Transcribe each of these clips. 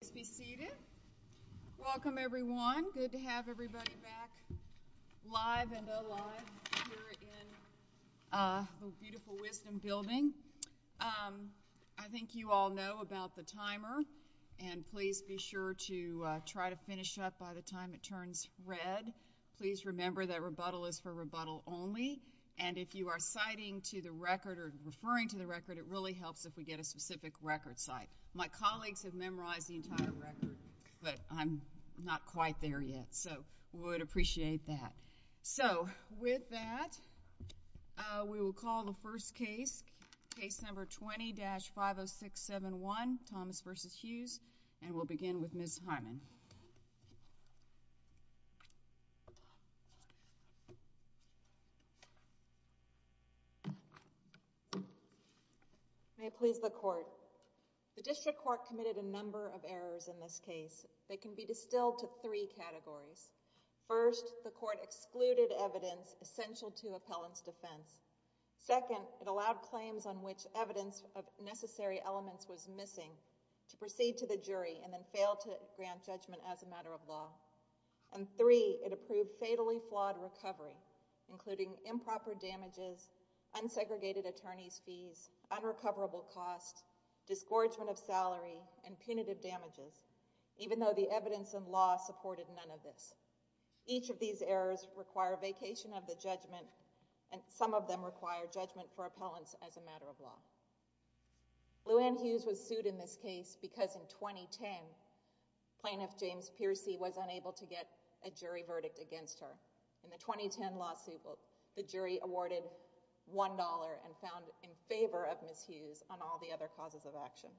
Please be seated. Welcome everyone. Good to have everybody back live and alive here in the beautiful Wisdom Building. I think you all know about the timer, and please be sure to try to finish up by the time it turns red. Please remember that rebuttal is for rebuttal only, and if you are citing to the record or referring to the record, it really helps if we get a specific record site. My colleagues have memorized the entire record, but I'm not quite there yet, so I would appreciate that. With that, we will call the first case, Case No. 20-50671, Thomas v. Hughes, and we'll begin with Ms. Harmon. May it please the Court. The District Court committed a number of errors in this case. They can be distilled to three categories. First, the Court excluded evidence essential to appellant's defense. Second, it allowed claims on which evidence of necessary elements was missing to proceed to the jury and then fail to grant judgment as a matter of law. And three, it approved fatally flawed recovery, including improper damages, unsegregated attorney's fees, unrecoverable costs, disgorgement of salary, and punitive damages, even though the evidence in law supported none of this. Each of these errors require vacation of the judgment, and some of them require judgment for appellants as a matter of law. Luann Hughes was sued in this case because in 2010, Plaintiff James Piercy was unable to get a jury verdict against her. In the 2010 lawsuit, the jury awarded $1 and found in favor of Ms. Hughes on all the other causes of action.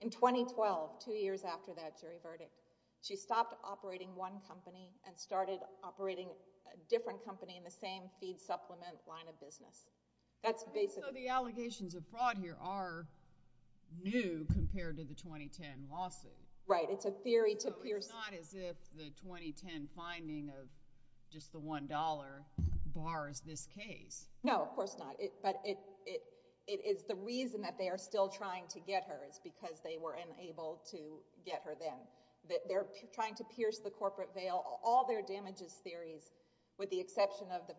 In 2012, two years after that jury verdict, she stopped operating one company and started operating a different company in the same feed supplement line of business. That's basically... So the allegations of fraud here are new compared to the 2010 lawsuit. Right. It's a theory to Pierce... It's not as if the 2010 finding of just the $1 bars this case. No, of course not. But it is the reason that they are still trying to get her is because they were unable to get her then. They're trying to Pierce the corporate veil. All their damages theories, with the exception of the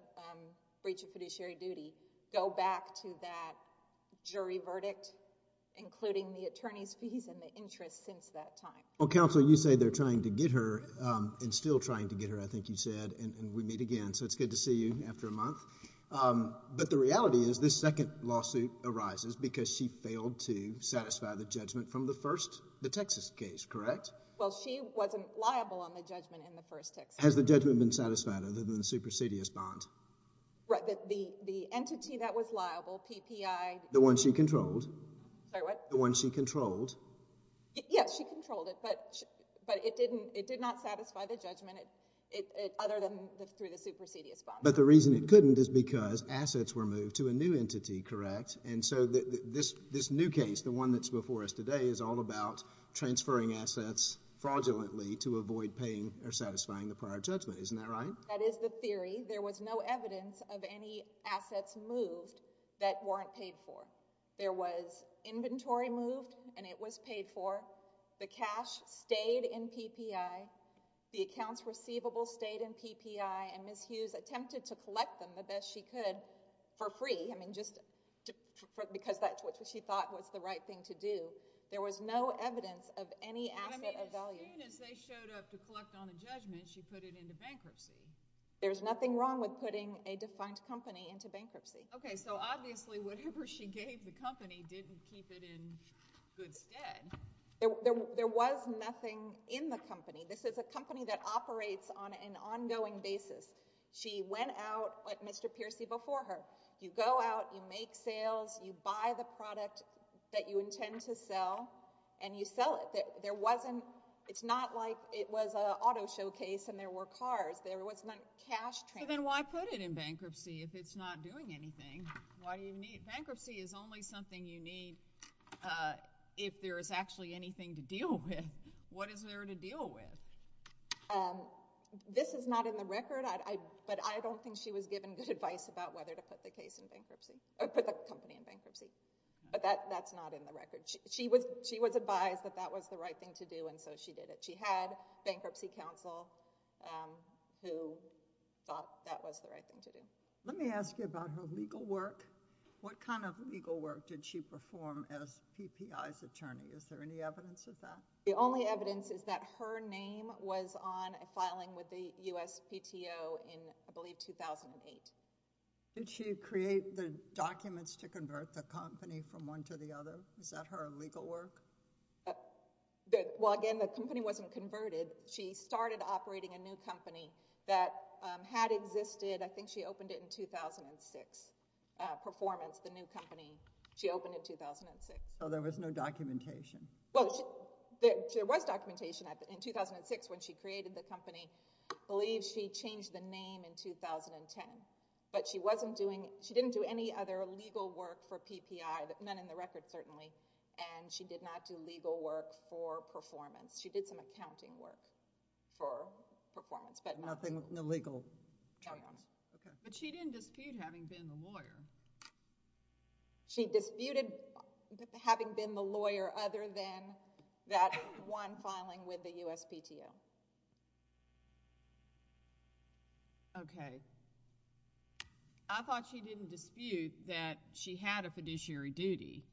breach of fiduciary duty, go back to that jury verdict, including the attorney's fees and the interest since that time. Well, Counsel, you say they're trying to get her and still trying to get her, I think you said, and we meet again. So it's good to see you after a month. But the reality is this second lawsuit arises because she failed to satisfy the judgment from the first, the Texas case, correct? Well, she wasn't liable on the judgment in the first Texas case. Has the judgment been satisfied other than the supersedious bond? Right. The entity that was liable, PPI... The one she controlled. Sorry, what? The one she controlled. Yes, she controlled it, but it did not satisfy the judgment other than through the supersedious bond. But the reason it couldn't is because assets were moved to a new entity, correct? And so this new case, the one that's before us today, is all about transferring assets fraudulently to avoid paying or satisfying the prior judgment. Isn't that right? That is the theory. There was no evidence of any assets moved that weren't paid for. There was inventory moved, and it was paid for. The cash stayed in PPI. The accounts receivable stayed in PPI, and Ms. Hughes attempted to collect them the best she could for free. I mean, just because that's what she thought was the right thing to do. There was no evidence of any asset of value. But I mean, as soon as they showed up to collect on a judgment, she put it into bankruptcy. There's nothing wrong with putting a defined company into bankruptcy. Okay, so obviously whatever she gave the company didn't keep it in good stead. There was nothing in the company. This is a company that operates on an ongoing basis. She went out like Mr. Peercy before her. You go out, you make sales, you buy the product that you intend to sell, and you sell it. It's not like it was an auto showcase and there were cars. There was no cash transfer. Well, then why put it in bankruptcy if it's not doing anything? Bankruptcy is only something you need if there is actually anything to deal with. What is there to deal with? This is not in the record, but I don't think she was given good advice about whether to put the company in bankruptcy. But that's not in the record. She was advised that that was the right thing to do, and so she did it. She had bankruptcy counsel who thought that was the right thing to do. Let me ask you about her legal work. What kind of legal work did she perform as PPI's attorney? Is there any evidence of that? The only evidence is that her name was on a filing with the USPTO in, I believe, 2008. Did she create the documents to convert the company from one to the other? Is that her legal work? Well, again, the company wasn't converted. She started operating a new company that had existed. I think she opened it in 2006, Performance, the new company she opened in 2006. So there was no documentation? Well, there was documentation. In 2006, when she created the company, I believe she changed the name in 2010. But she wasn't doing—she didn't do any other legal work for PPI, none in the record certainly, and she did not do legal work for Performance. She did some accounting work for Performance. Nothing legal? No. Okay. But she didn't dispute having been the lawyer. She disputed having been the lawyer other than that one filing with the USPTO. Okay. I thought she didn't dispute that she had a fiduciary duty.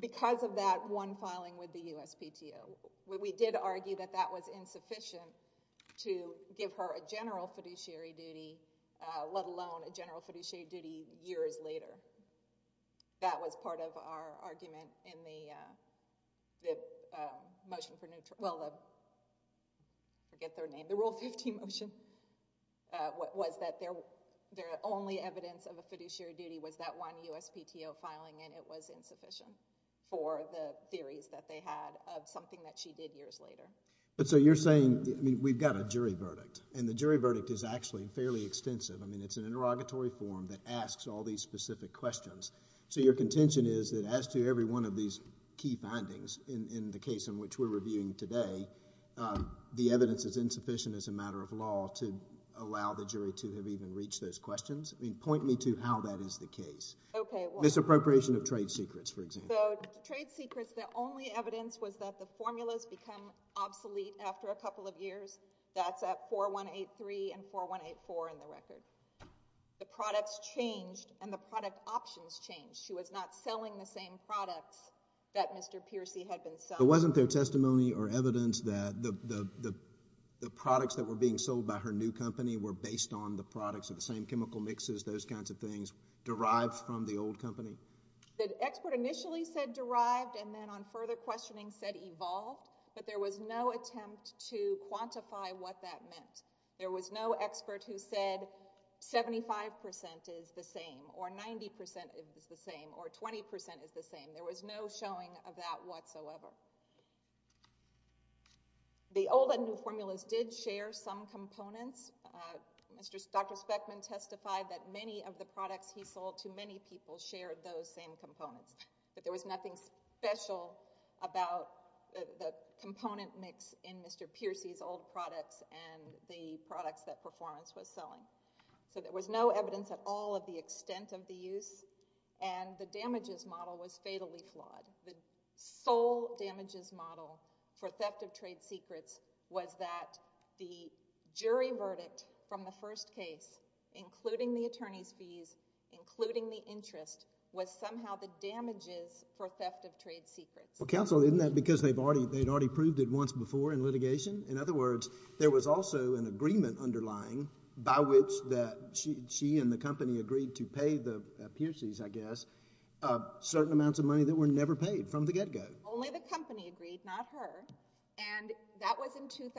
Because of that one filing with the USPTO. We did argue that that was insufficient to give her a general fiduciary duty, let alone a general fiduciary duty years later. That was part of our argument in the motion for—well, I forget their name, the Rule 15 motion, was that their only evidence of a fiduciary duty was that one USPTO filing, and it was insufficient for the theories that they had of something that she did years later. So you're saying—I mean, we've got a jury verdict, and the jury verdict is actually fairly extensive. I mean, it's an interrogatory form that asks all these specific questions. So your contention is that as to every one of these key findings in the case in which we're reviewing today, the evidence is insufficient as a matter of law to allow the jury to have even reached those questions? I mean, point me to how that is the case. Okay. Misappropriation of trade secrets, for example. So trade secrets, the only evidence was that the formulas become obsolete after a couple of years. That's at 4183 and 4184 in the record. The products changed, and the product options changed. She was not selling the same products that Mr. Peercy had been selling. But wasn't there testimony or evidence that the products that were being sold by her new company were based on the products of the same chemical mixes, those kinds of things, derived from the old company? The expert initially said derived, and then on further questioning said evolved, but there was no attempt to quantify what that meant. There was no expert who said 75% is the same or 90% is the same or 20% is the same. There was no showing of that whatsoever. The old and new formulas did share some components. Dr. Speckman testified that many of the products he sold to many people shared those same components, but there was nothing special about the component mix in Mr. Peercy's old products and the products that Performance was selling. There was no evidence at all of the extent of the use, and the damages model was fatally flawed. The sole damages model for theft of trade secrets was that the jury verdict from the first case, including the attorney's fees, including the interest, was somehow the damages for theft of trade secrets. Well, counsel, isn't that because they'd already proved it once before in litigation? In other words, there was also an agreement underlying by which she and the company agreed to pay the Peercy's, I guess, certain amounts of money that were never paid from the get-go. Only the company agreed, not her.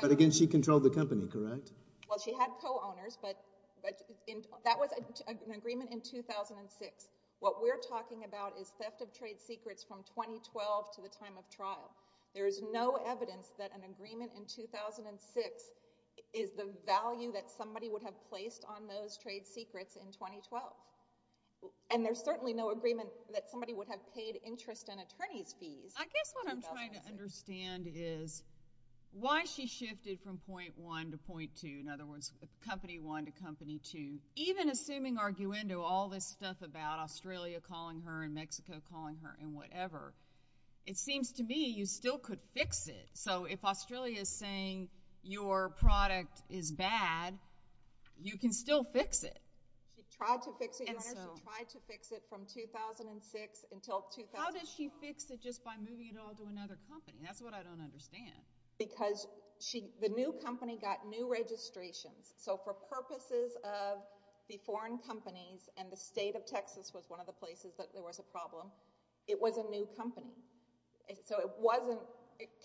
But again, she controlled the company, correct? Well, she had co-owners, but that was an agreement in 2006. What we're talking about is theft of trade secrets from 2012 to the time of trial. There is no evidence that an agreement in 2006 is the value that somebody would have placed on those trade secrets in 2012. And there's certainly no agreement that somebody would have paid interest and attorney's fees. I guess what I'm trying to understand is why she shifted from Point 1 to Point 2, in other words, Company 1 to Company 2. Even assuming arguendo, all this stuff about Australia calling her and Mexico calling her and whatever, it seems to me you still could fix it. So if Australia is saying your product is bad, you can still fix it. She tried to fix it, Your Honor. She tried to fix it from 2006 until 2004. How did she fix it just by moving it all to another company? That's what I don't understand. Because the new company got new registrations. So for purposes of the foreign companies, and the state of Texas was one of the places that there was a problem, it was a new company. So it wasn't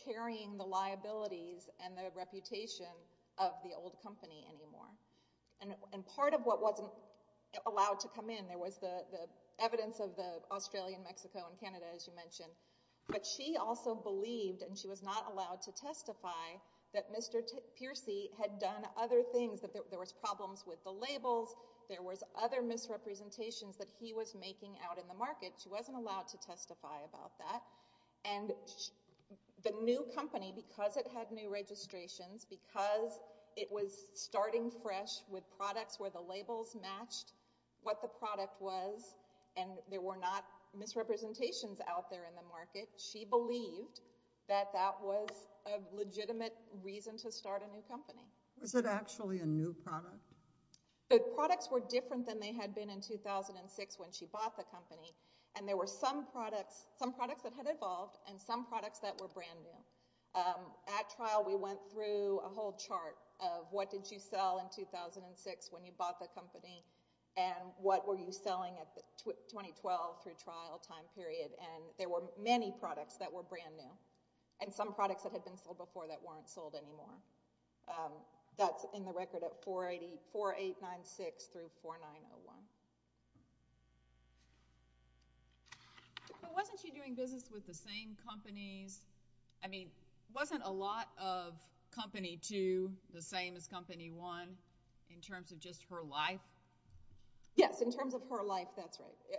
carrying the liabilities and the reputation of the old company anymore. And part of what wasn't allowed to come in, there was the evidence of the Australia and Mexico and Canada, as you mentioned, but she also believed, and she was not allowed to testify, that Mr. Piercy had done other things, that there was problems with the labels, there was other misrepresentations that he was making out in the market. She wasn't allowed to testify about that. And the new company, because it had new registrations, because it was starting fresh with products where the labels matched what the product was, and there were not misrepresentations out there in the market, she believed that that was a legitimate reason to start a new company. Was it actually a new product? The products were different than they had been in 2006 when she bought the company. And there were some products that had evolved and some products that were brand new. At trial we went through a whole chart of what did you sell in 2006 when you bought the company and what were you selling at the 2012 through trial time period. And there were many products that were brand new and some products that had been sold before that weren't sold anymore. That's in the record at 4896 through 4901. But wasn't she doing business with the same companies? I mean, wasn't a lot of Company 2 the same as Company 1 in terms of just her life? Yes, in terms of her life, that's right.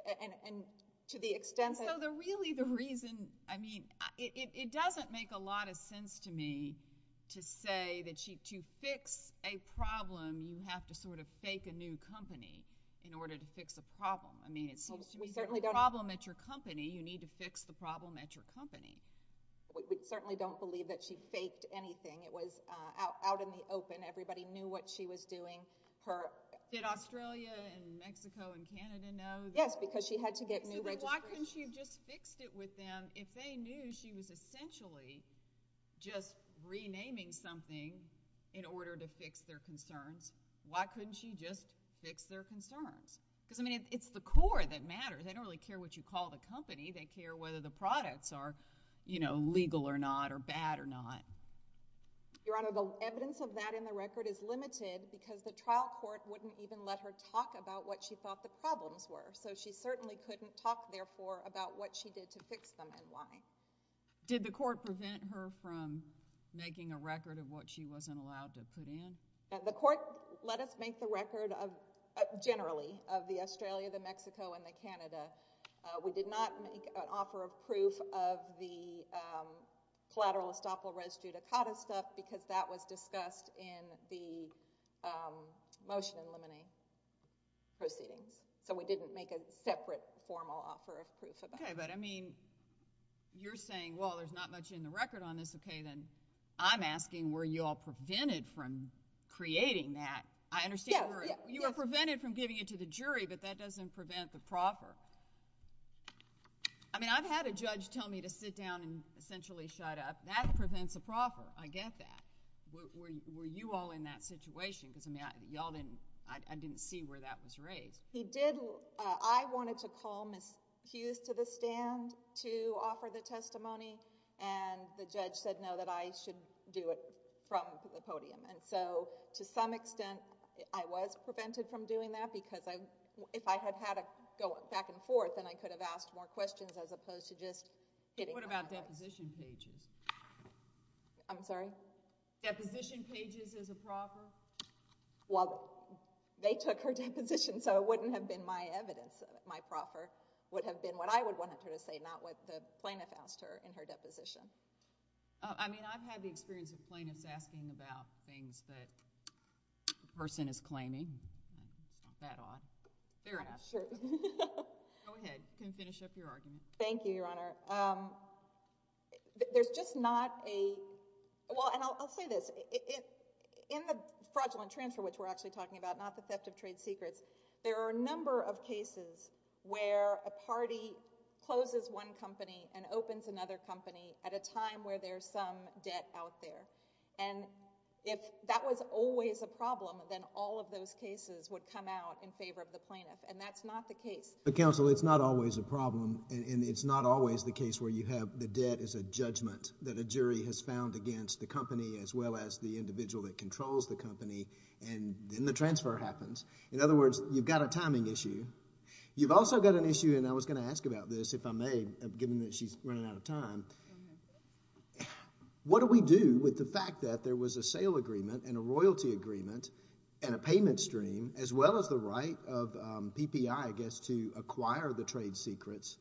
So really the reason, I mean, it doesn't make a lot of sense to me to say that to fix a problem you have to sort of fake a new company in order to fix a problem. I mean, it's a problem at your company, you need to fix the problem at your company. We certainly don't believe that she faked anything. It was out in the open, everybody knew what she was doing. Did Australia and Mexico and Canada know? Yes, because she had to get new registration. So why couldn't she just fix it with them if they knew she was essentially just renaming something in order to fix their concerns? Why couldn't she just fix their concerns? Because, I mean, it's the core that matters. They don't really care what you call the company, they care whether the products are, you know, legal or not or bad or not. Your Honor, the evidence of that in the record is limited because the trial court wouldn't even let her talk about what she thought the problems were. So she certainly couldn't talk, therefore, about what she did to fix them and why. Did the court prevent her from making a record of what she wasn't allowed to put in? The court let us make the record generally of the Australia, the Mexico, and the Canada. We did not make an offer of proof of the collateral estoppel res judicata stuff because that was discussed in the motion eliminating proceedings. So we didn't make a separate formal offer of proof of that. Okay. But, I mean, you're saying, well, there's not much in the record on this. Okay. Then I'm asking were you all prevented from creating that? I understand you were prevented from giving it to the jury, but that doesn't prevent the proffer. I mean, I've had a judge tell me to sit down and essentially shut up. That prevents a proffer. I get that. Were you all in that situation? Because, I mean, I didn't see where that was raised. He did. I wanted to call Ms. Hughes to the stand to offer the testimony, and the judge said no, that I should do it from the podium. And so, to some extent, I was prevented from doing that because if I had had to go back and forth, then I could have asked more questions as opposed to just getting... What about deposition pages? I'm sorry? Deposition pages as a proffer? Well, they took her deposition, so it wouldn't have been my evidence. My proffer would have been what I would want her to say, not what the plaintiff asked her in her deposition. I mean, I've had the experience of plaintiffs asking about things that the person is claiming. Fair enough. Go ahead. You can finish up your argument. Thank you, Your Honor. There's just not a... Well, and I'll say this. In the fraudulent transfer, which we're actually talking about, not the theft of trade secrets, there are a number of cases where a party closes one company and opens another company at a time where there's some debt out there. And if that was always a problem, then all of those cases would come out in favor of the plaintiff, and that's not the case. But, counsel, it's not always a problem, and it's not always the case where you have the debt as a judgment that a jury has found against the company as well as the individual that controls the company, and then the transfer happens. In other words, you've got a timing issue. You've also got an issue, and I was going to ask about this, if I may, given that she's running out of time. What do we do with the fact that there was a sale agreement and a royalty agreement and a payment stream as well as the right of PPI, I guess, to acquire the trade secrets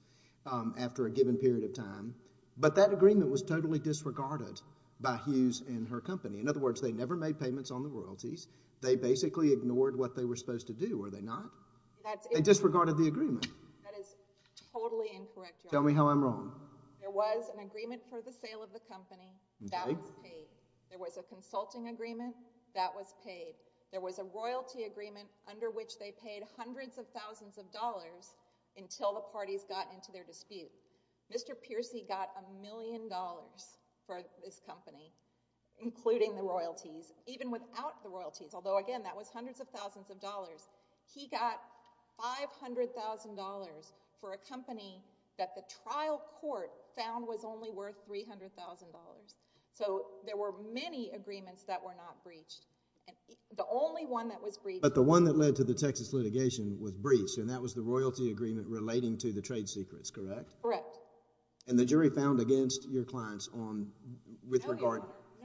after a given period of time, but that agreement was totally disregarded by Hughes and her company? In other words, they never made payments on the royalties. They basically ignored what they were supposed to do, were they not? They disregarded the agreement. That is totally incorrect, Your Honor. Tell me how I'm wrong. There was an agreement for the sale of the company. That was paid. There was a consulting agreement. That was paid. There was a royalty agreement under which they paid hundreds of thousands of dollars until the parties got into their dispute. Mr. Peercy got a million dollars for his company, including the royalties, even without the royalties, although, again, that was hundreds of thousands of dollars. He got $500,000 for a company that the trial court found was only worth $300,000. So there were many agreements that were not breached. The only one that was breached... But the one that led to the Texas litigation was breached, and that was the royalty agreement relating to the trade secrets, correct? Correct. And the jury found against your clients with regard... No, Your Honor,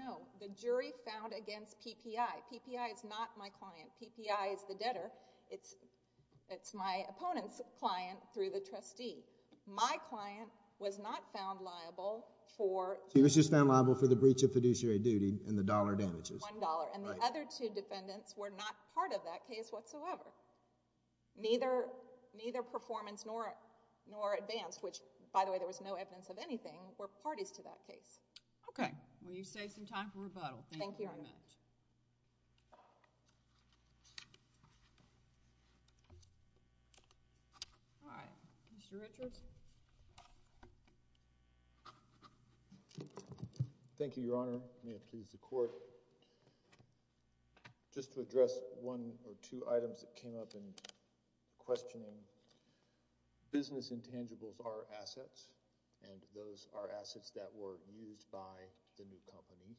no. The jury found against PPI. PPI is not my client. PPI is the debtor. My client was not found liable for... He was just found liable for the breach of fiduciary duty and the dollar damages. One dollar. And the other two defendants were not part of that case whatsoever. Neither performance nor advance, which, by the way, there was no evidence of anything, were parties to that case. Well, you've saved some time for rebuttal. Thank you very much. Thank you, Your Honor. All right. Mr. Richards? Thank you, Your Honor. May it please the Court. Just to address one or two items that came up in questioning, business intangibles are assets, and those are assets that were used by the new company.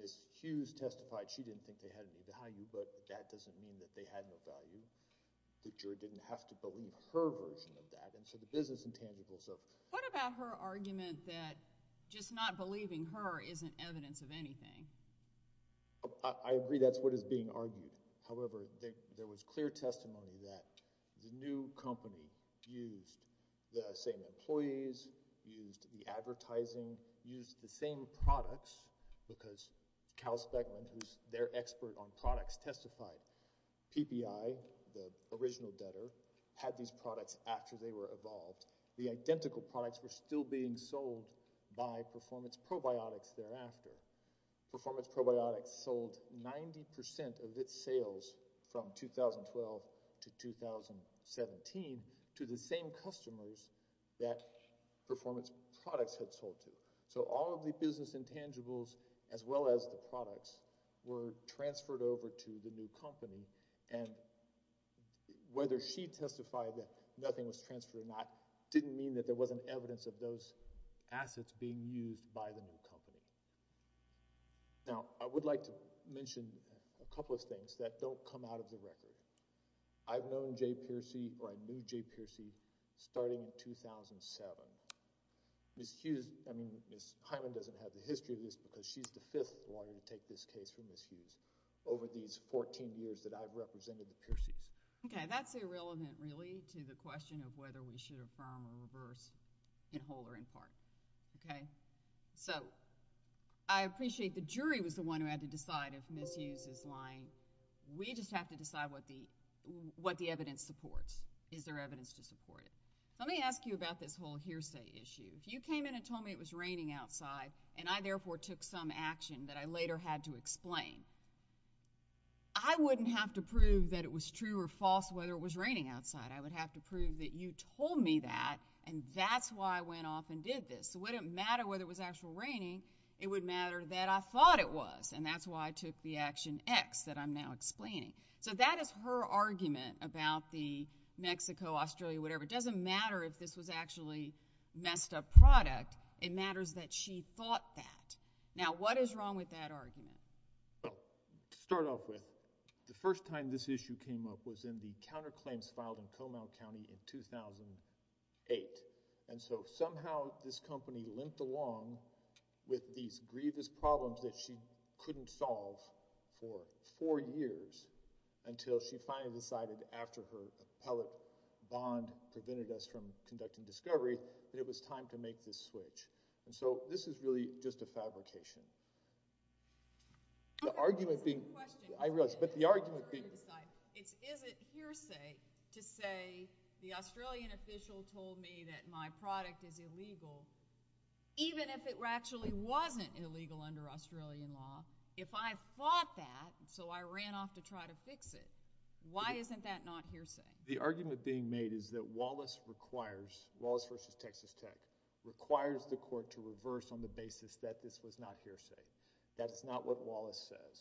Ms. Hughes testified she didn't think they had any value, but that doesn't mean that they had no value. The jury didn't have to believe her version of that, and so the business intangibles are... What about her argument that just not believing her isn't evidence of anything? I agree that's what is being argued. However, there was clear testimony that the new company used the same employees, used the advertising, used the same products, because Calspec, who's their expert on products, testified. PPI, the original debtor, had these products after they were evolved. The identical products were still being sold by Performance Probiotics thereafter. Performance Probiotics sold 90% of its sales from 2012 to 2017 to the same customers that Performance Products had sold to. So all of the business intangibles, as well as the products, were transferred over to the new company, and whether she testified that nothing was transferred or not didn't mean that there wasn't evidence of those assets being used by the new company. Now, I would like to mention a couple of things that don't come out of the record. I've known Jay Pearcy, or I knew Jay Pearcy, starting in 2007. Ms. Hughes... I mean, Ms. Hyman doesn't have the history of this because she's the fifth lawyer to take this case for Ms. Hughes over these 14 years that I've represented the Pearcy's. Okay. That's irrelevant, really, to the question of whether we should affirm or reverse, in whole or in part. Okay? So I appreciate the jury was the one who had to decide if Ms. Hughes is lying. We just have to decide what the evidence supports. Is there evidence to support it? Let me ask you about this whole hearsay issue. You came in and told me it was raining outside, and I, therefore, took some action that I later had to explain. I wouldn't have to prove that it was true or false whether it was raining outside. I would have to prove that you told me that, and that's why I went off and did this. It wouldn't matter whether it was actually raining. It would matter that I thought it was, and that's why I took the action X that I'm now explaining. So that is her argument about the Mexico, Australia, whatever. It doesn't matter if this was actually messed-up product. It matters that she thought that. Now what is wrong with that argument? Well, to start off with, the first time this issue came up was in the counterclaims filed in Comal County in 2008. And so somehow this company limped along with these grievous problems that she couldn't solve for four years until she finally decided after her appellate bond prevented us from conducting discovery that it was time to make this switch. And so this is really just a fabrication. The argument being—I realize, but the argument being— Is it hearsay to say the Australian official told me that my product is illegal even if it actually wasn't illegal under Australian law? If I fought that, so I ran off to try to fix it, why isn't that not hearsay? The argument being made is that Wallace requires—Wallace v. Texas Tech— requires the court to reverse on the basis that this was not hearsay. That's not what Wallace says.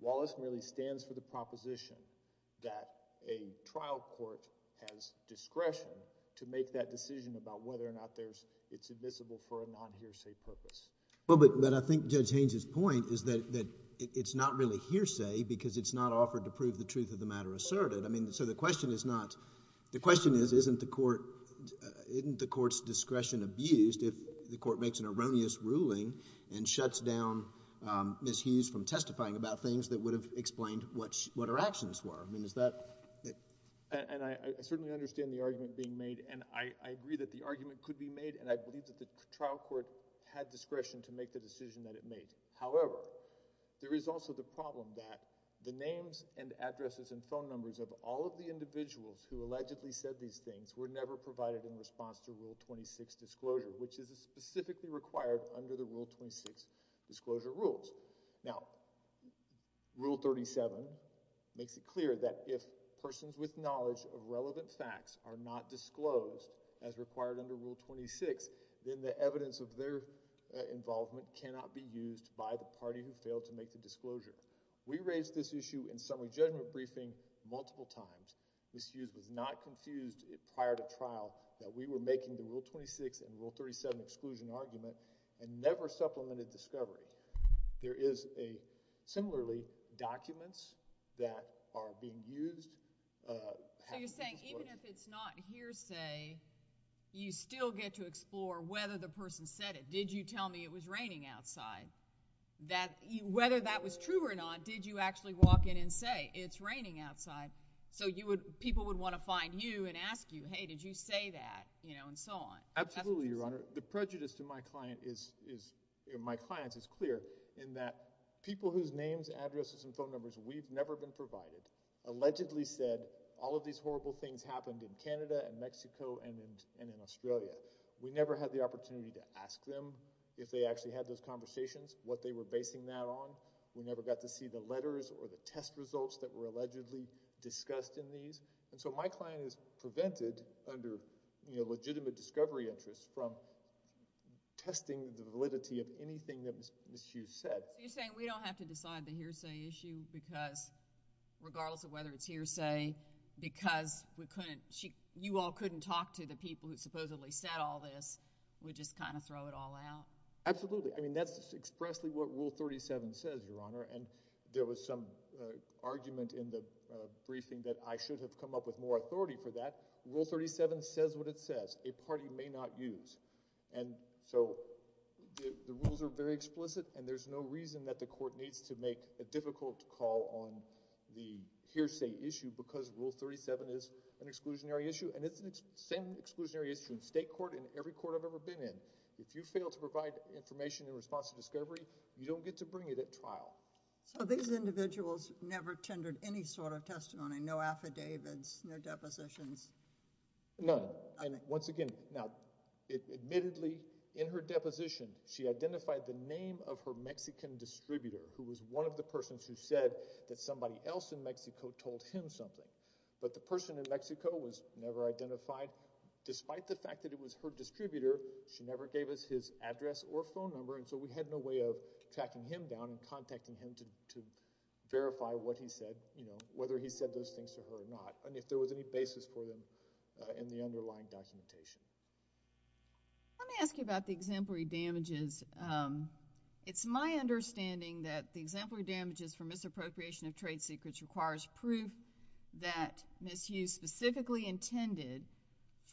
Wallace merely stands for the proposition that a trial court has discretion to make that decision about whether or not it's admissible for a non-hearsay purpose. Well, but I think Judge Haynes' point is that it's not really hearsay because it's not offered to prove the truth of the matter asserted. I mean, so the question is not—the question is, isn't the court's discretion abused if the court makes an erroneous ruling and shuts down Ms. Hughes from testifying about things that would have explained what her actions were? I mean, is that— And I certainly understand the argument being made, and I agree that the argument could be made, and I believe that the trial court had discretion to make the decision that it made. However, there is also the problem that the names and addresses and phone numbers of all of the individuals who allegedly said these things were never provided in response to Rule 26 disclosure, which is specifically required under the Rule 26 disclosure rules. Now, Rule 37 makes it clear that if persons with knowledge of relevant facts are not disclosed as required under Rule 26, then the evidence of their involvement cannot be used by the party who failed to make the disclosure. We raised this issue in summary judgment briefing multiple times. Ms. Hughes was not confused prior to trial that we were making the Rule 26 and Rule 37 exclusion argument and never supplemented discovery. There is a—similarly, documents that are being used— So you're saying even if it's not hearsay, you still get to explore whether the person said it. Did you tell me it was raining outside? Whether that was true or not, did you actually walk in and say, it's raining outside? So people would want to find you and ask you, hey, did you say that? You know, and so on. Absolutely, Your Honor. The prejudice to my clients is clear in that people whose names, addresses, and phone numbers we've never been provided allegedly said all of these horrible things happened in Canada and Mexico and in Australia. We never had the opportunity to ask them if they actually had those conversations, what they were basing that on. We never got to see the letters or the test results that were allegedly discussed in these. And so my client is prevented under legitimate discovery interest from testing the validity of anything that Ms. Hughes said. You're saying we don't have to decide the hearsay issue because regardless of whether it's hearsay, because you all couldn't talk to the people who supposedly said all this, we just kind of throw it all out? Absolutely. I mean, that's expressly what Rule 37 says, Your Honor. And there was some argument in the briefing that I should have come up with more authority for that. Rule 37 says what it says. A party may not use. And so the rules are very explicit, and there's no reason that the court needs to make a difficult call on the hearsay issue because Rule 37 is an exclusionary issue, and it's the same exclusionary issue in state court and every court I've ever been in. If you fail to provide information in response to discovery, you don't get to bring it at trial. So these individuals never tendered any sort of testimony, no affidavits, no depositions? None. Once again, now admittedly in her deposition she identified the name of her Mexican distributor who was one of the persons who said that somebody else in Mexico told him something. But the person in Mexico was never identified. Despite the fact that it was her distributor, she never gave us his address or phone number, and so we had no way of tracking him down and contacting him to verify what he said, whether he said those things to her or not, and if there was any basis for them in the underlying documentation. Let me ask you about the exemplary damages. It's my understanding that the exemplary damages for misappropriation of trade secrets requires proof that misuse specifically intended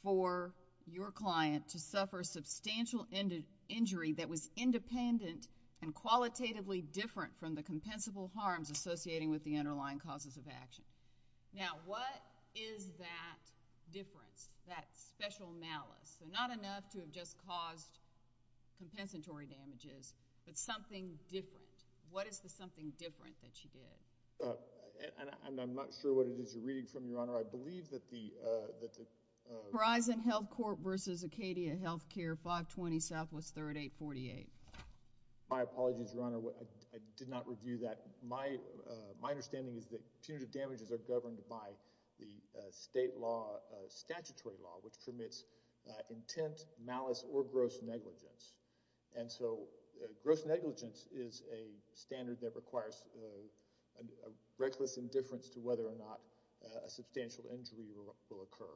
for your client to suffer substantial injury that was independent and qualitatively different from the compensable harms associating with the underlying causes of action. Now what is that difference, that special malice? Not enough to have just caused compensatory damages, but something different. What is the something different that she did? And I'm not sure what it is you're reading from, Your Honor. I believe that the— Verizon Healthcourt v. Acadia Healthcare, 520 Southwest 3rd, 848. My apologies, Your Honor. I did not review that. My understanding is that punitive damages are governed by the state law, statutory law, which permits intent, malice, or gross negligence, and so gross negligence is a standard that requires a reckless indifference to whether or not a substantial injury will occur.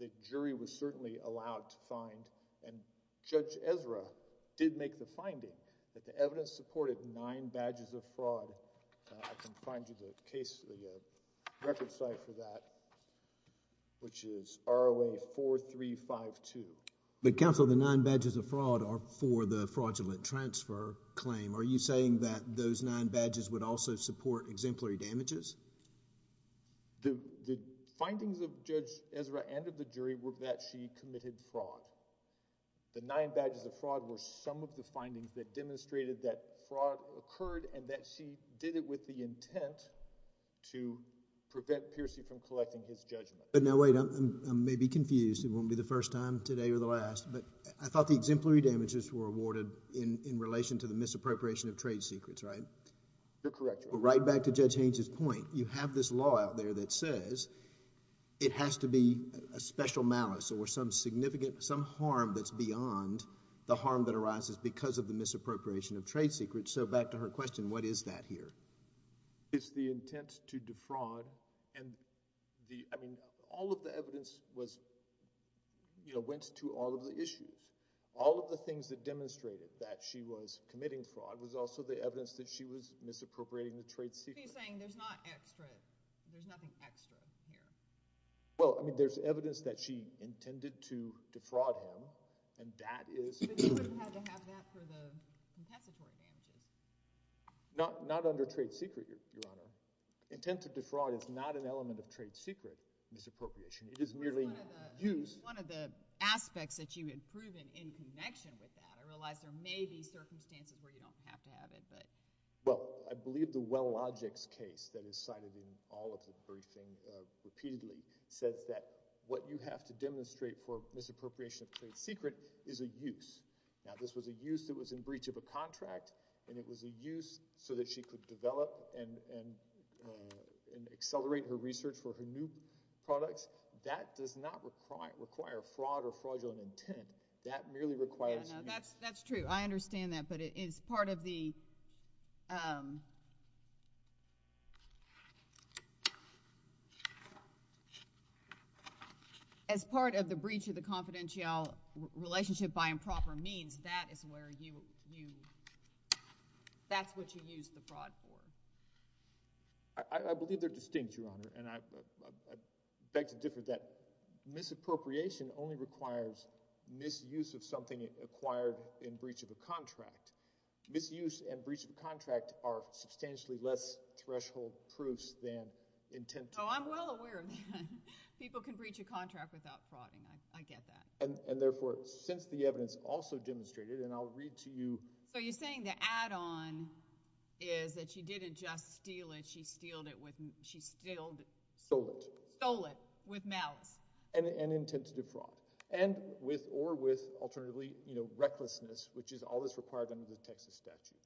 The jury was certainly allowed to find, and Judge Ezra did make the finding that the evidence supported nine badges of fraud. I can find you the case, the record site for that, which is ROA 4352. But counsel, the nine badges of fraud are for the fraudulent transfer claim. Are you saying that those nine badges would also support exemplary damages? The findings of Judge Ezra and of the jury were that she committed fraud. The nine badges of fraud were some of the findings that demonstrated that fraud occurred and that she did it with the intent to prevent Peercy from collecting his judgment. But now wait, I may be confused. It won't be the first time today or the last, but I thought the exemplary damages were awarded in relation to the misappropriation of trade secrets, right? You're correct, Your Honor. But right back to Judge Haynes' point. You have this law out there that says it has to be a special malice or some harm that's beyond the harm that arises because of the misappropriation of trade secrets. So back to her question, what is that here? It's the intent to defraud. All of the evidence went to all of the issues. All of the things that demonstrated that she was committing fraud was also the evidence that she was misappropriating the trade secret. So you're saying there's not extra, there's nothing extra here? Well, I mean, there's evidence that she intended to defraud him, and that is— But you wouldn't have to have that for the content support damages. Not under trade secret, Your Honor. Intent to defraud is not an element of trade secret misappropriation. It is merely used— One of the aspects that you had proven in connection with that, and I realize there may be circumstances where you don't have to have it, but— Well, I believe the well-logics case that is cited in all of the briefings repeatedly says that what you have to demonstrate for misappropriation of trade secret is a use. Now, this was a use that was in breach of a contract, and it was a use so that she could develop and accelerate her research for her new products. That does not require fraud or fraudulent intent. That merely requires— That's true. I understand that. But as part of the breach of the confidential relationship by improper means, that is where you—that's what you use the fraud for. I believe they're distinct, Your Honor, and I beg to differ that misappropriation only requires misuse of something acquired in breach of a contract. Misuse and breach of a contract are substantially less threshold proofs than intent to— Oh, I'm well aware of that. People can breach a contract without fraud, and I get that. And therefore, since the evidence also demonstrated, and I'll read to you— So you're saying the add-on is that she didn't just steal it. She stealed it with— Stole it. Stole it with malice. And intent to defraud. And with or with, alternatively, you know, recklessness, which is always required under the Texas statute.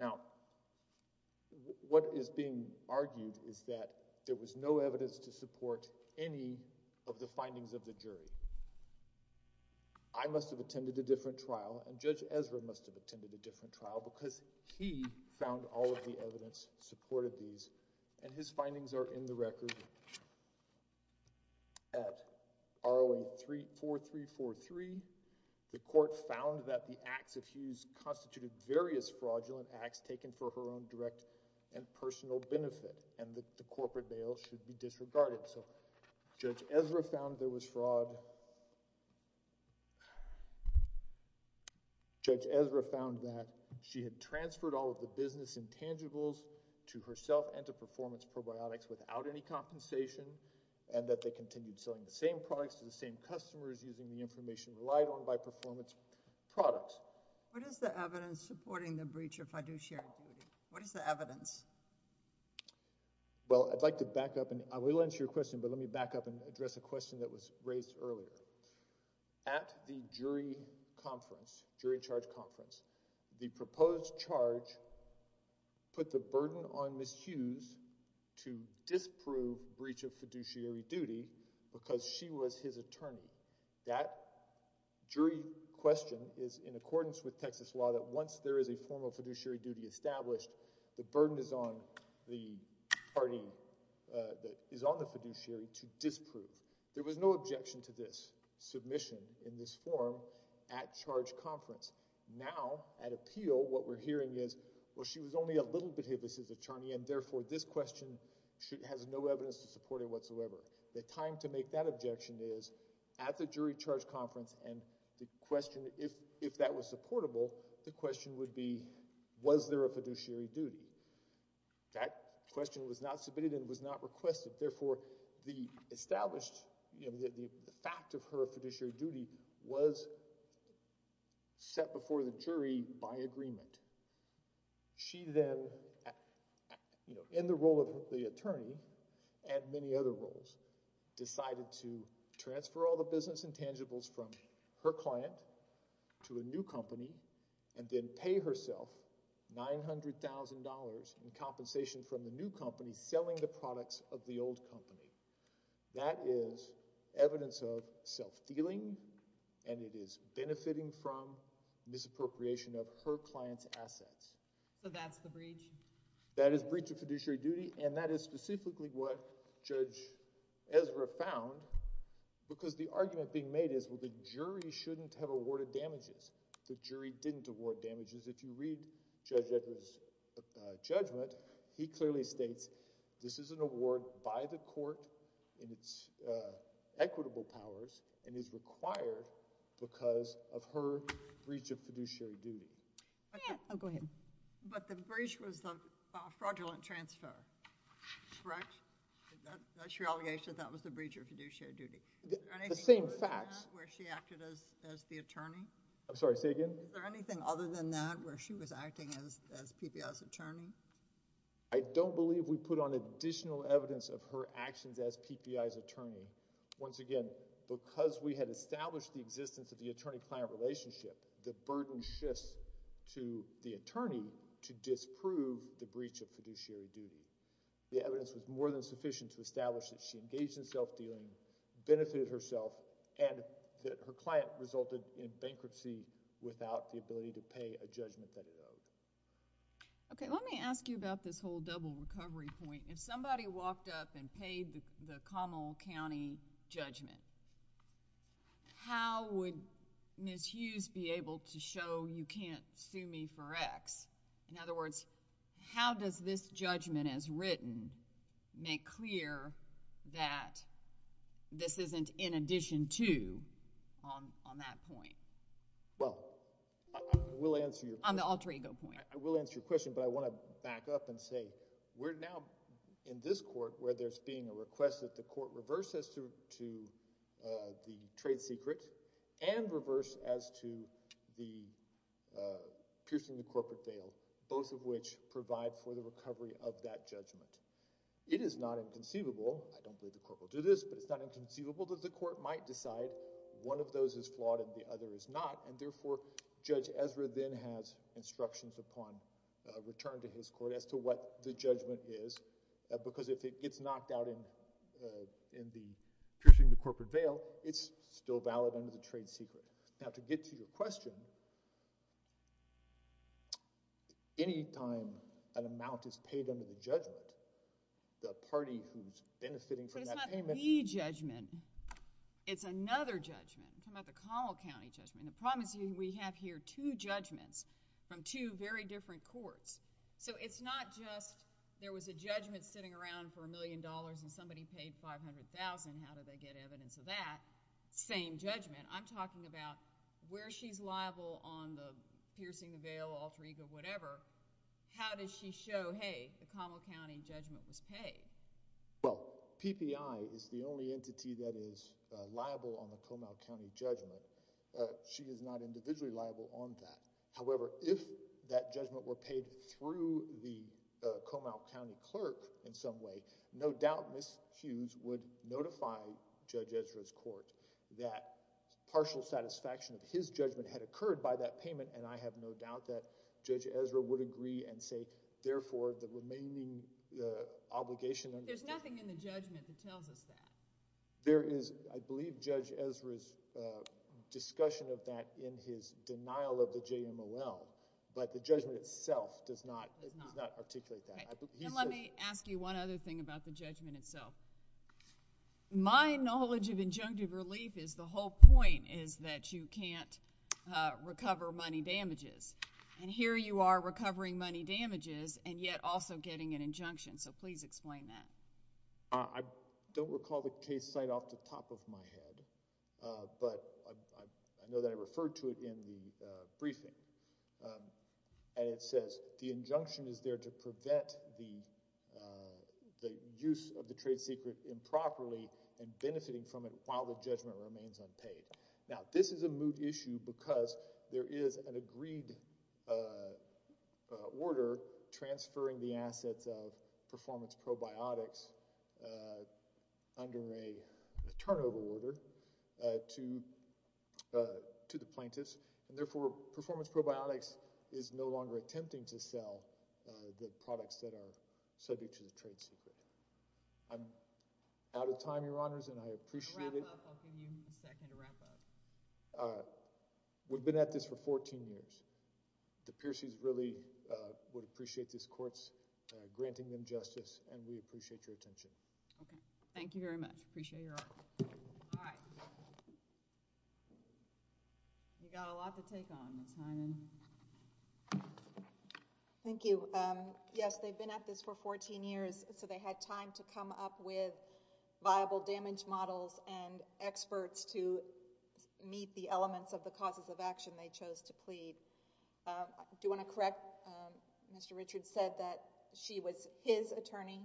Now, what is being argued is that there was no evidence to support any of the findings of the jury. I must have attended a different trial, and Judge Ezra must have attended a different trial, because he found all of the evidence supported these. And his findings are in the record. At R01-4343, the court found that the acts of Hughes constituted various fraudulent acts taken for her own direct and personal benefit, and that the corporate bail should be disregarded. So Judge Ezra found there was fraud. Judge Ezra found that she had transferred all of the business intangibles to herself and to Performance Probiotics without any compensation, and that they continued selling the same products to the same customers using the information relied on by Performance Products. What is the evidence supporting the breach of fiduciary duty? What is the evidence? Well, I'd like to back up, and I will answer your question, but let me back up and address a question that was raised earlier. At the jury conference, jury charge conference, the proposed charge put the burden on Ms. Hughes to disprove breach of fiduciary duty because she was his attorney. That jury question is in accordance with Texas law that once there is a formal fiduciary duty established, the burden is on the fiduciary to disprove. There was no objection to this submission in this form at charge conference. Now, at appeal, what we're hearing is, well, she was only a little bit his attorney, and therefore this question has no evidence to support it whatsoever. The time to make that objection is at the jury charge conference, and the question, if that was supportable, the question would be, was there a fiduciary duty? That question was not submitted and was not requested. Therefore, the established fact of her fiduciary duty was set before the jury by agreement. She then, in the role of the attorney and many other roles, decided to transfer all the business intangibles from her client to a new company and then pay herself $900,000 in compensation from the new company selling the products of the old company. That is evidence of self-dealing, and it is benefiting from misappropriation of her client's assets. So that's the breach? That is breach of fiduciary duty, and that is specifically what Judge Ezra found because the argument being made is, well, the jury shouldn't have awarded damages. The jury didn't award damages. If you read Judge Ezra's judgment, he clearly states this is an award by the court in its equitable powers and is required because of her breach of fiduciary duty. Oh, go ahead. But the breach was the fraudulent transfer, correct? That's your allegation that that was the breach of fiduciary duty? The same facts. Is there anything other than that where she acted as the attorney? I'm sorry, say again? Is there anything other than that where she was acting as PPI's attorney? I don't believe we put on additional evidence of her actions as PPI's attorney. Once again, because we had established the existence of the attorney-client relationship, the burden shifts to the attorney to disprove the breach of fiduciary duty. The evidence was more than sufficient to establish that she engaged in self-dealing, benefited herself, and that her client resulted in bankruptcy without the ability to pay a judgment that arose. Okay, let me ask you about this whole double recovery point. If somebody walked up and paid the Commonwealth County judgment, how would Ms. Hughes be able to show you can't sue me for X? In other words, how does this judgment as written make clear that this isn't in addition to on that point? Well, I will answer your question. On the alter ego point. I will answer your question, but I want to back up and say, we're now in this court where there's being a request that the court reverse as to the trade secrets and reverse as to the piercing the corporate veil, both of which provide for the recovery of that judgment. It is not inconceivable, I don't think the court will do this, but it's not inconceivable that the court might decide one of those is flawed and the other is not, and therefore Judge Ezra then has instructions upon return to his court as to what the judgment is, because if it gets knocked out in the piercing the corporate veil, it's still valid under the trade secret. Now, to get to your question, any time an amount is paid under the judgment, the party who's benefiting from that payment... But it's not the judgment. It's another judgment. The Commonwealth County judgment. The problem is we have here two judgments from two very different courts, so it's not just there was a judgment sitting around for a million dollars and somebody paid $500,000. How did they get evidence of that? Same judgment. I'm talking about where she's liable on the piercing the veil, alter ego, whatever. How does she show, hey, the Commonwealth County judgment was paid? Well, PPI is the only entity that is liable on the Comal County judgment. She was not individually liable on that. However, if that judgment were paid through the Comal County clerk in some way, no doubt Ms. Hughes would notify Judge Ezra's court that partial satisfaction of his judgment had occurred by that payment, and I have no doubt that Judge Ezra would agree and say, therefore, the remaining obligation... There's nothing in the judgment that tells us that. There is, I believe, Judge Ezra's discussion of that in his denial of the JMOL, but the judgment itself does not articulate that. Okay. Let me ask you one other thing about the judgment itself. My knowledge of injunctive relief is the whole point is that you can't recover money damages, and here you are recovering money damages and yet also getting an injunction, so please explain that. I don't recall the case site off the top of my head, but I know that I referred to it in the briefing, and it says the injunction is there to prevent the use of the trade secret improperly and benefiting from it while the judgment remains unpaid. Now, this is a moot issue because there is an agreed order transferring the assets of performance probiotics under a turnover order to the plaintiffs, and therefore, performance probiotics is no longer attempting to sell the products that are subject to the trade secret. I'm out of time, Your Honors, and I appreciate it. A wrap-up. I'll give you a second to wrap up. We've been at this for 14 years. The Pierceys really would appreciate this Court's granting them justice, and we appreciate your attention. Thank you very much. Appreciate your honor. All right. We've got a lot to take on, Ms. Hyman. Thank you. Yes, they've been at this for 14 years, so they had time to come up with viable damage models and experts to meet the elements of the causes of action they chose to plead. Do you want to correct? Mr. Richards said that she was his attorney.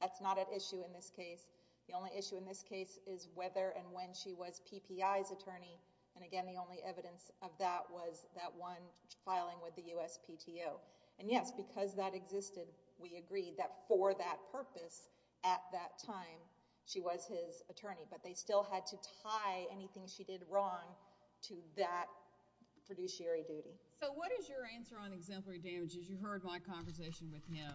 That's not at issue in this case. The only issue in this case is whether and when she was PPI's attorney, and again, the only evidence of that was that one filing with the USPTO. Yes, because that existed, we agreed that for that purpose at that time she was his attorney, but they still had to tie anything she did wrong to that fiduciary duty. What is your answer on exemplary damages? You heard my conversation with him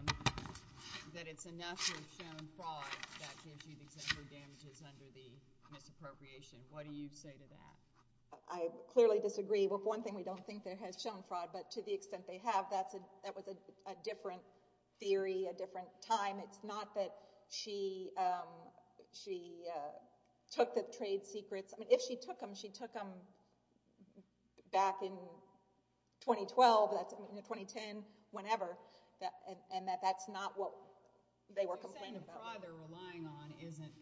that it's enough to have shown fraud that gives you exemplary damages under the misappropriation. What do you say to that? I clearly disagree. One thing, we don't think that it has shown fraud, but to the extent they have, that was a different theory, a different time. It's not that she took the trade secrets. If she took them, she took them back in 2012, 2010, whenever, and that's not what they were complaining about. You're saying the fraud they're relying on isn't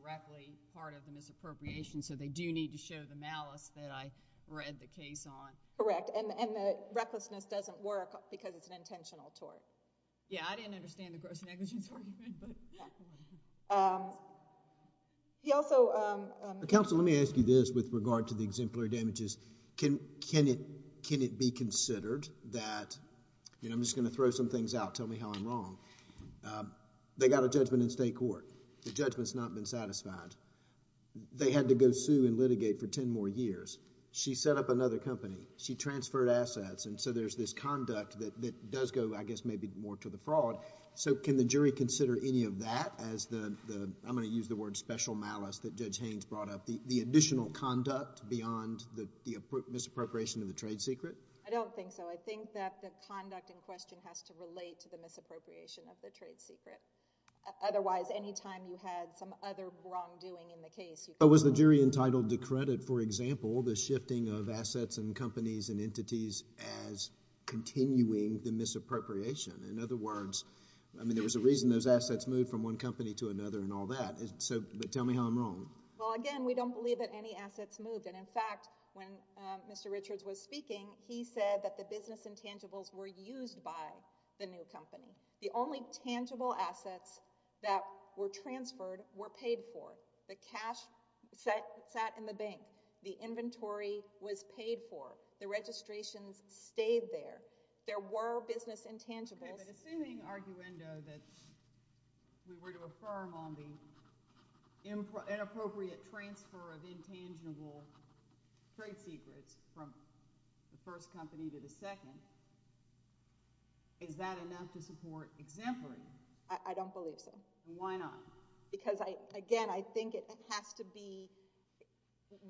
directly part of the misappropriation, so they do need to show the malice that I read the case on. Correct, and the recklessness doesn't work because it's an intentional tort. Yes, I didn't understand the gross negligence part of it. Counsel, let me ask you this with regard to the exemplary damages. Can it be considered that... I'm just going to throw some things out, tell me how I'm wrong. They got a judgment in state court. The judgment's not been satisfied. They had to go sue and litigate for ten more years. She set up another company. She transferred assets, and so there's this conduct that does go, I guess, maybe more to the fraud. Can the jury consider any of that as the... I'm going to use the word special malice that Judge Haynes brought up, the additional conduct beyond the misappropriation of the trade secret? I don't think so. I think that the conduct in question has to relate to the misappropriation of the trade secret. Otherwise, any time you had some other wrongdoing in the case... Was the jury entitled to credit, for example, the shifting of assets and companies and entities as continuing the misappropriation? In other words, there was a reason those assets moved from one company to another and all that. Tell me how I'm wrong. Again, we don't believe that any assets moved. In fact, when Mr. Richards was speaking, he said that the business intangibles were used by the new company. The only tangible assets that were transferred were paid for. The cash sat in the bank. The inventory was paid for. The registrations stayed there. There were business intangibles. Okay, but assuming, arguendo, that we were to affirm on the inappropriate transfer of intangible trade secrets from the first company to the second, is that enough to support exemplary? I don't believe so. Why not? Because, again, I think it has to be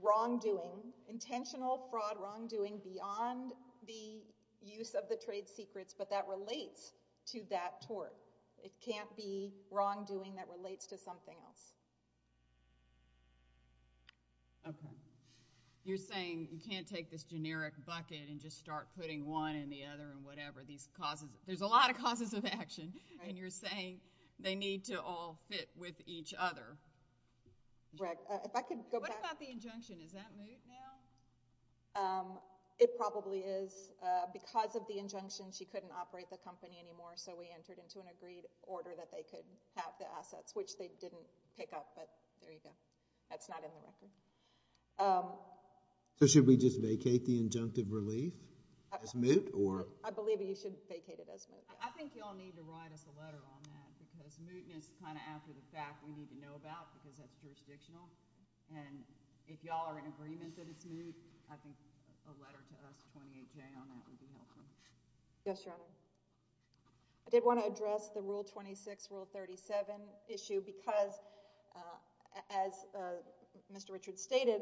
wrongdoing, intentional fraud, wrongdoing beyond the use of the trade secrets, but that relates to that tort. It can't be wrongdoing that relates to something else. Okay. You're saying you can't take this generic bucket and just start putting one in the other and whatever. There's a lot of causes of action, and you're saying they need to all fit with each other. What about the injunction? Is that moot now? It probably is. Because of the injunction, she couldn't operate the company anymore, so we entered into an agreed order that they could have the assets, which they didn't pick up, but there you go. That's not in the record. So should we just vacate the injunctive relief as moot? I believe you should vacate it as moot. I think you all need to write us a letter on that because mootness is kind of after the fact we need to know about because that's jurisdictional. And if you all are in agreement that it's moot, I think a letter to S28J on that would be helpful. Yes, Your Honor. I did want to address the Rule 26, Rule 37 issue because as Mr. Richards stated,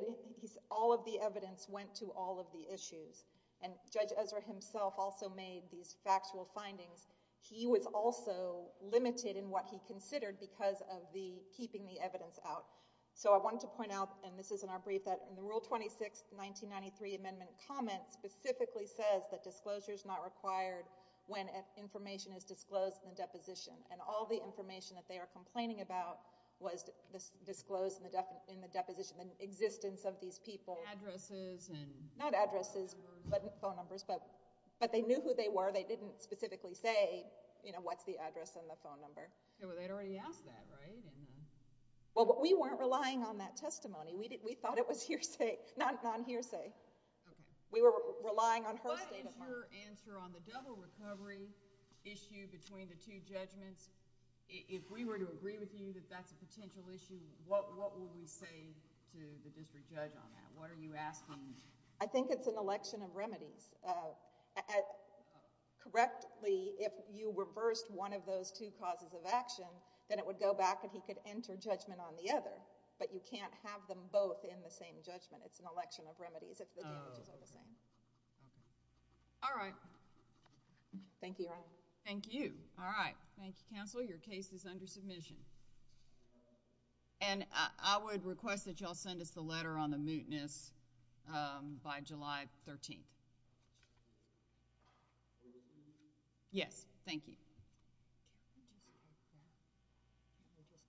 all of the evidence went to all of the issues. And Judge Ezra himself also made these factual findings. He was also limited in what he considered because of the keeping the evidence out. So I wanted to point out, and this is in our brief, that in the Rule 26, 1993 Amendment comment specifically says that disclosure is not required when information is disclosed in the deposition. And all the information that they are complaining about was disclosed in the deposition in the existence of these people. Addresses and... Not addresses, but phone numbers. But they knew who they were. They didn't specifically say, you know, what's the address and the phone number. Well, they'd already asked that, right? Well, we weren't relying on that testimony. We thought it was hearsay, non-hearsay. We were relying on her statement. What is your answer on the double recovery issue between the two judgments? If we were to agree with you that that's a potential issue, what would we say to the district judge on that? What are you asking? I think it's an election of remedies. Correctly, if you reversed one of those two causes of action, then it would go back and he could enter judgment on the other. But you can't have them both in the same judgment. It's an election of remedies if the damages are the same. All right. Thank you, Your Honor. Thank you. All right. Thank you, counsel. Your case is under submission. And I would request that y'all send us the letter on the mootness by July 13th. Yes, thank you. I just touched on it.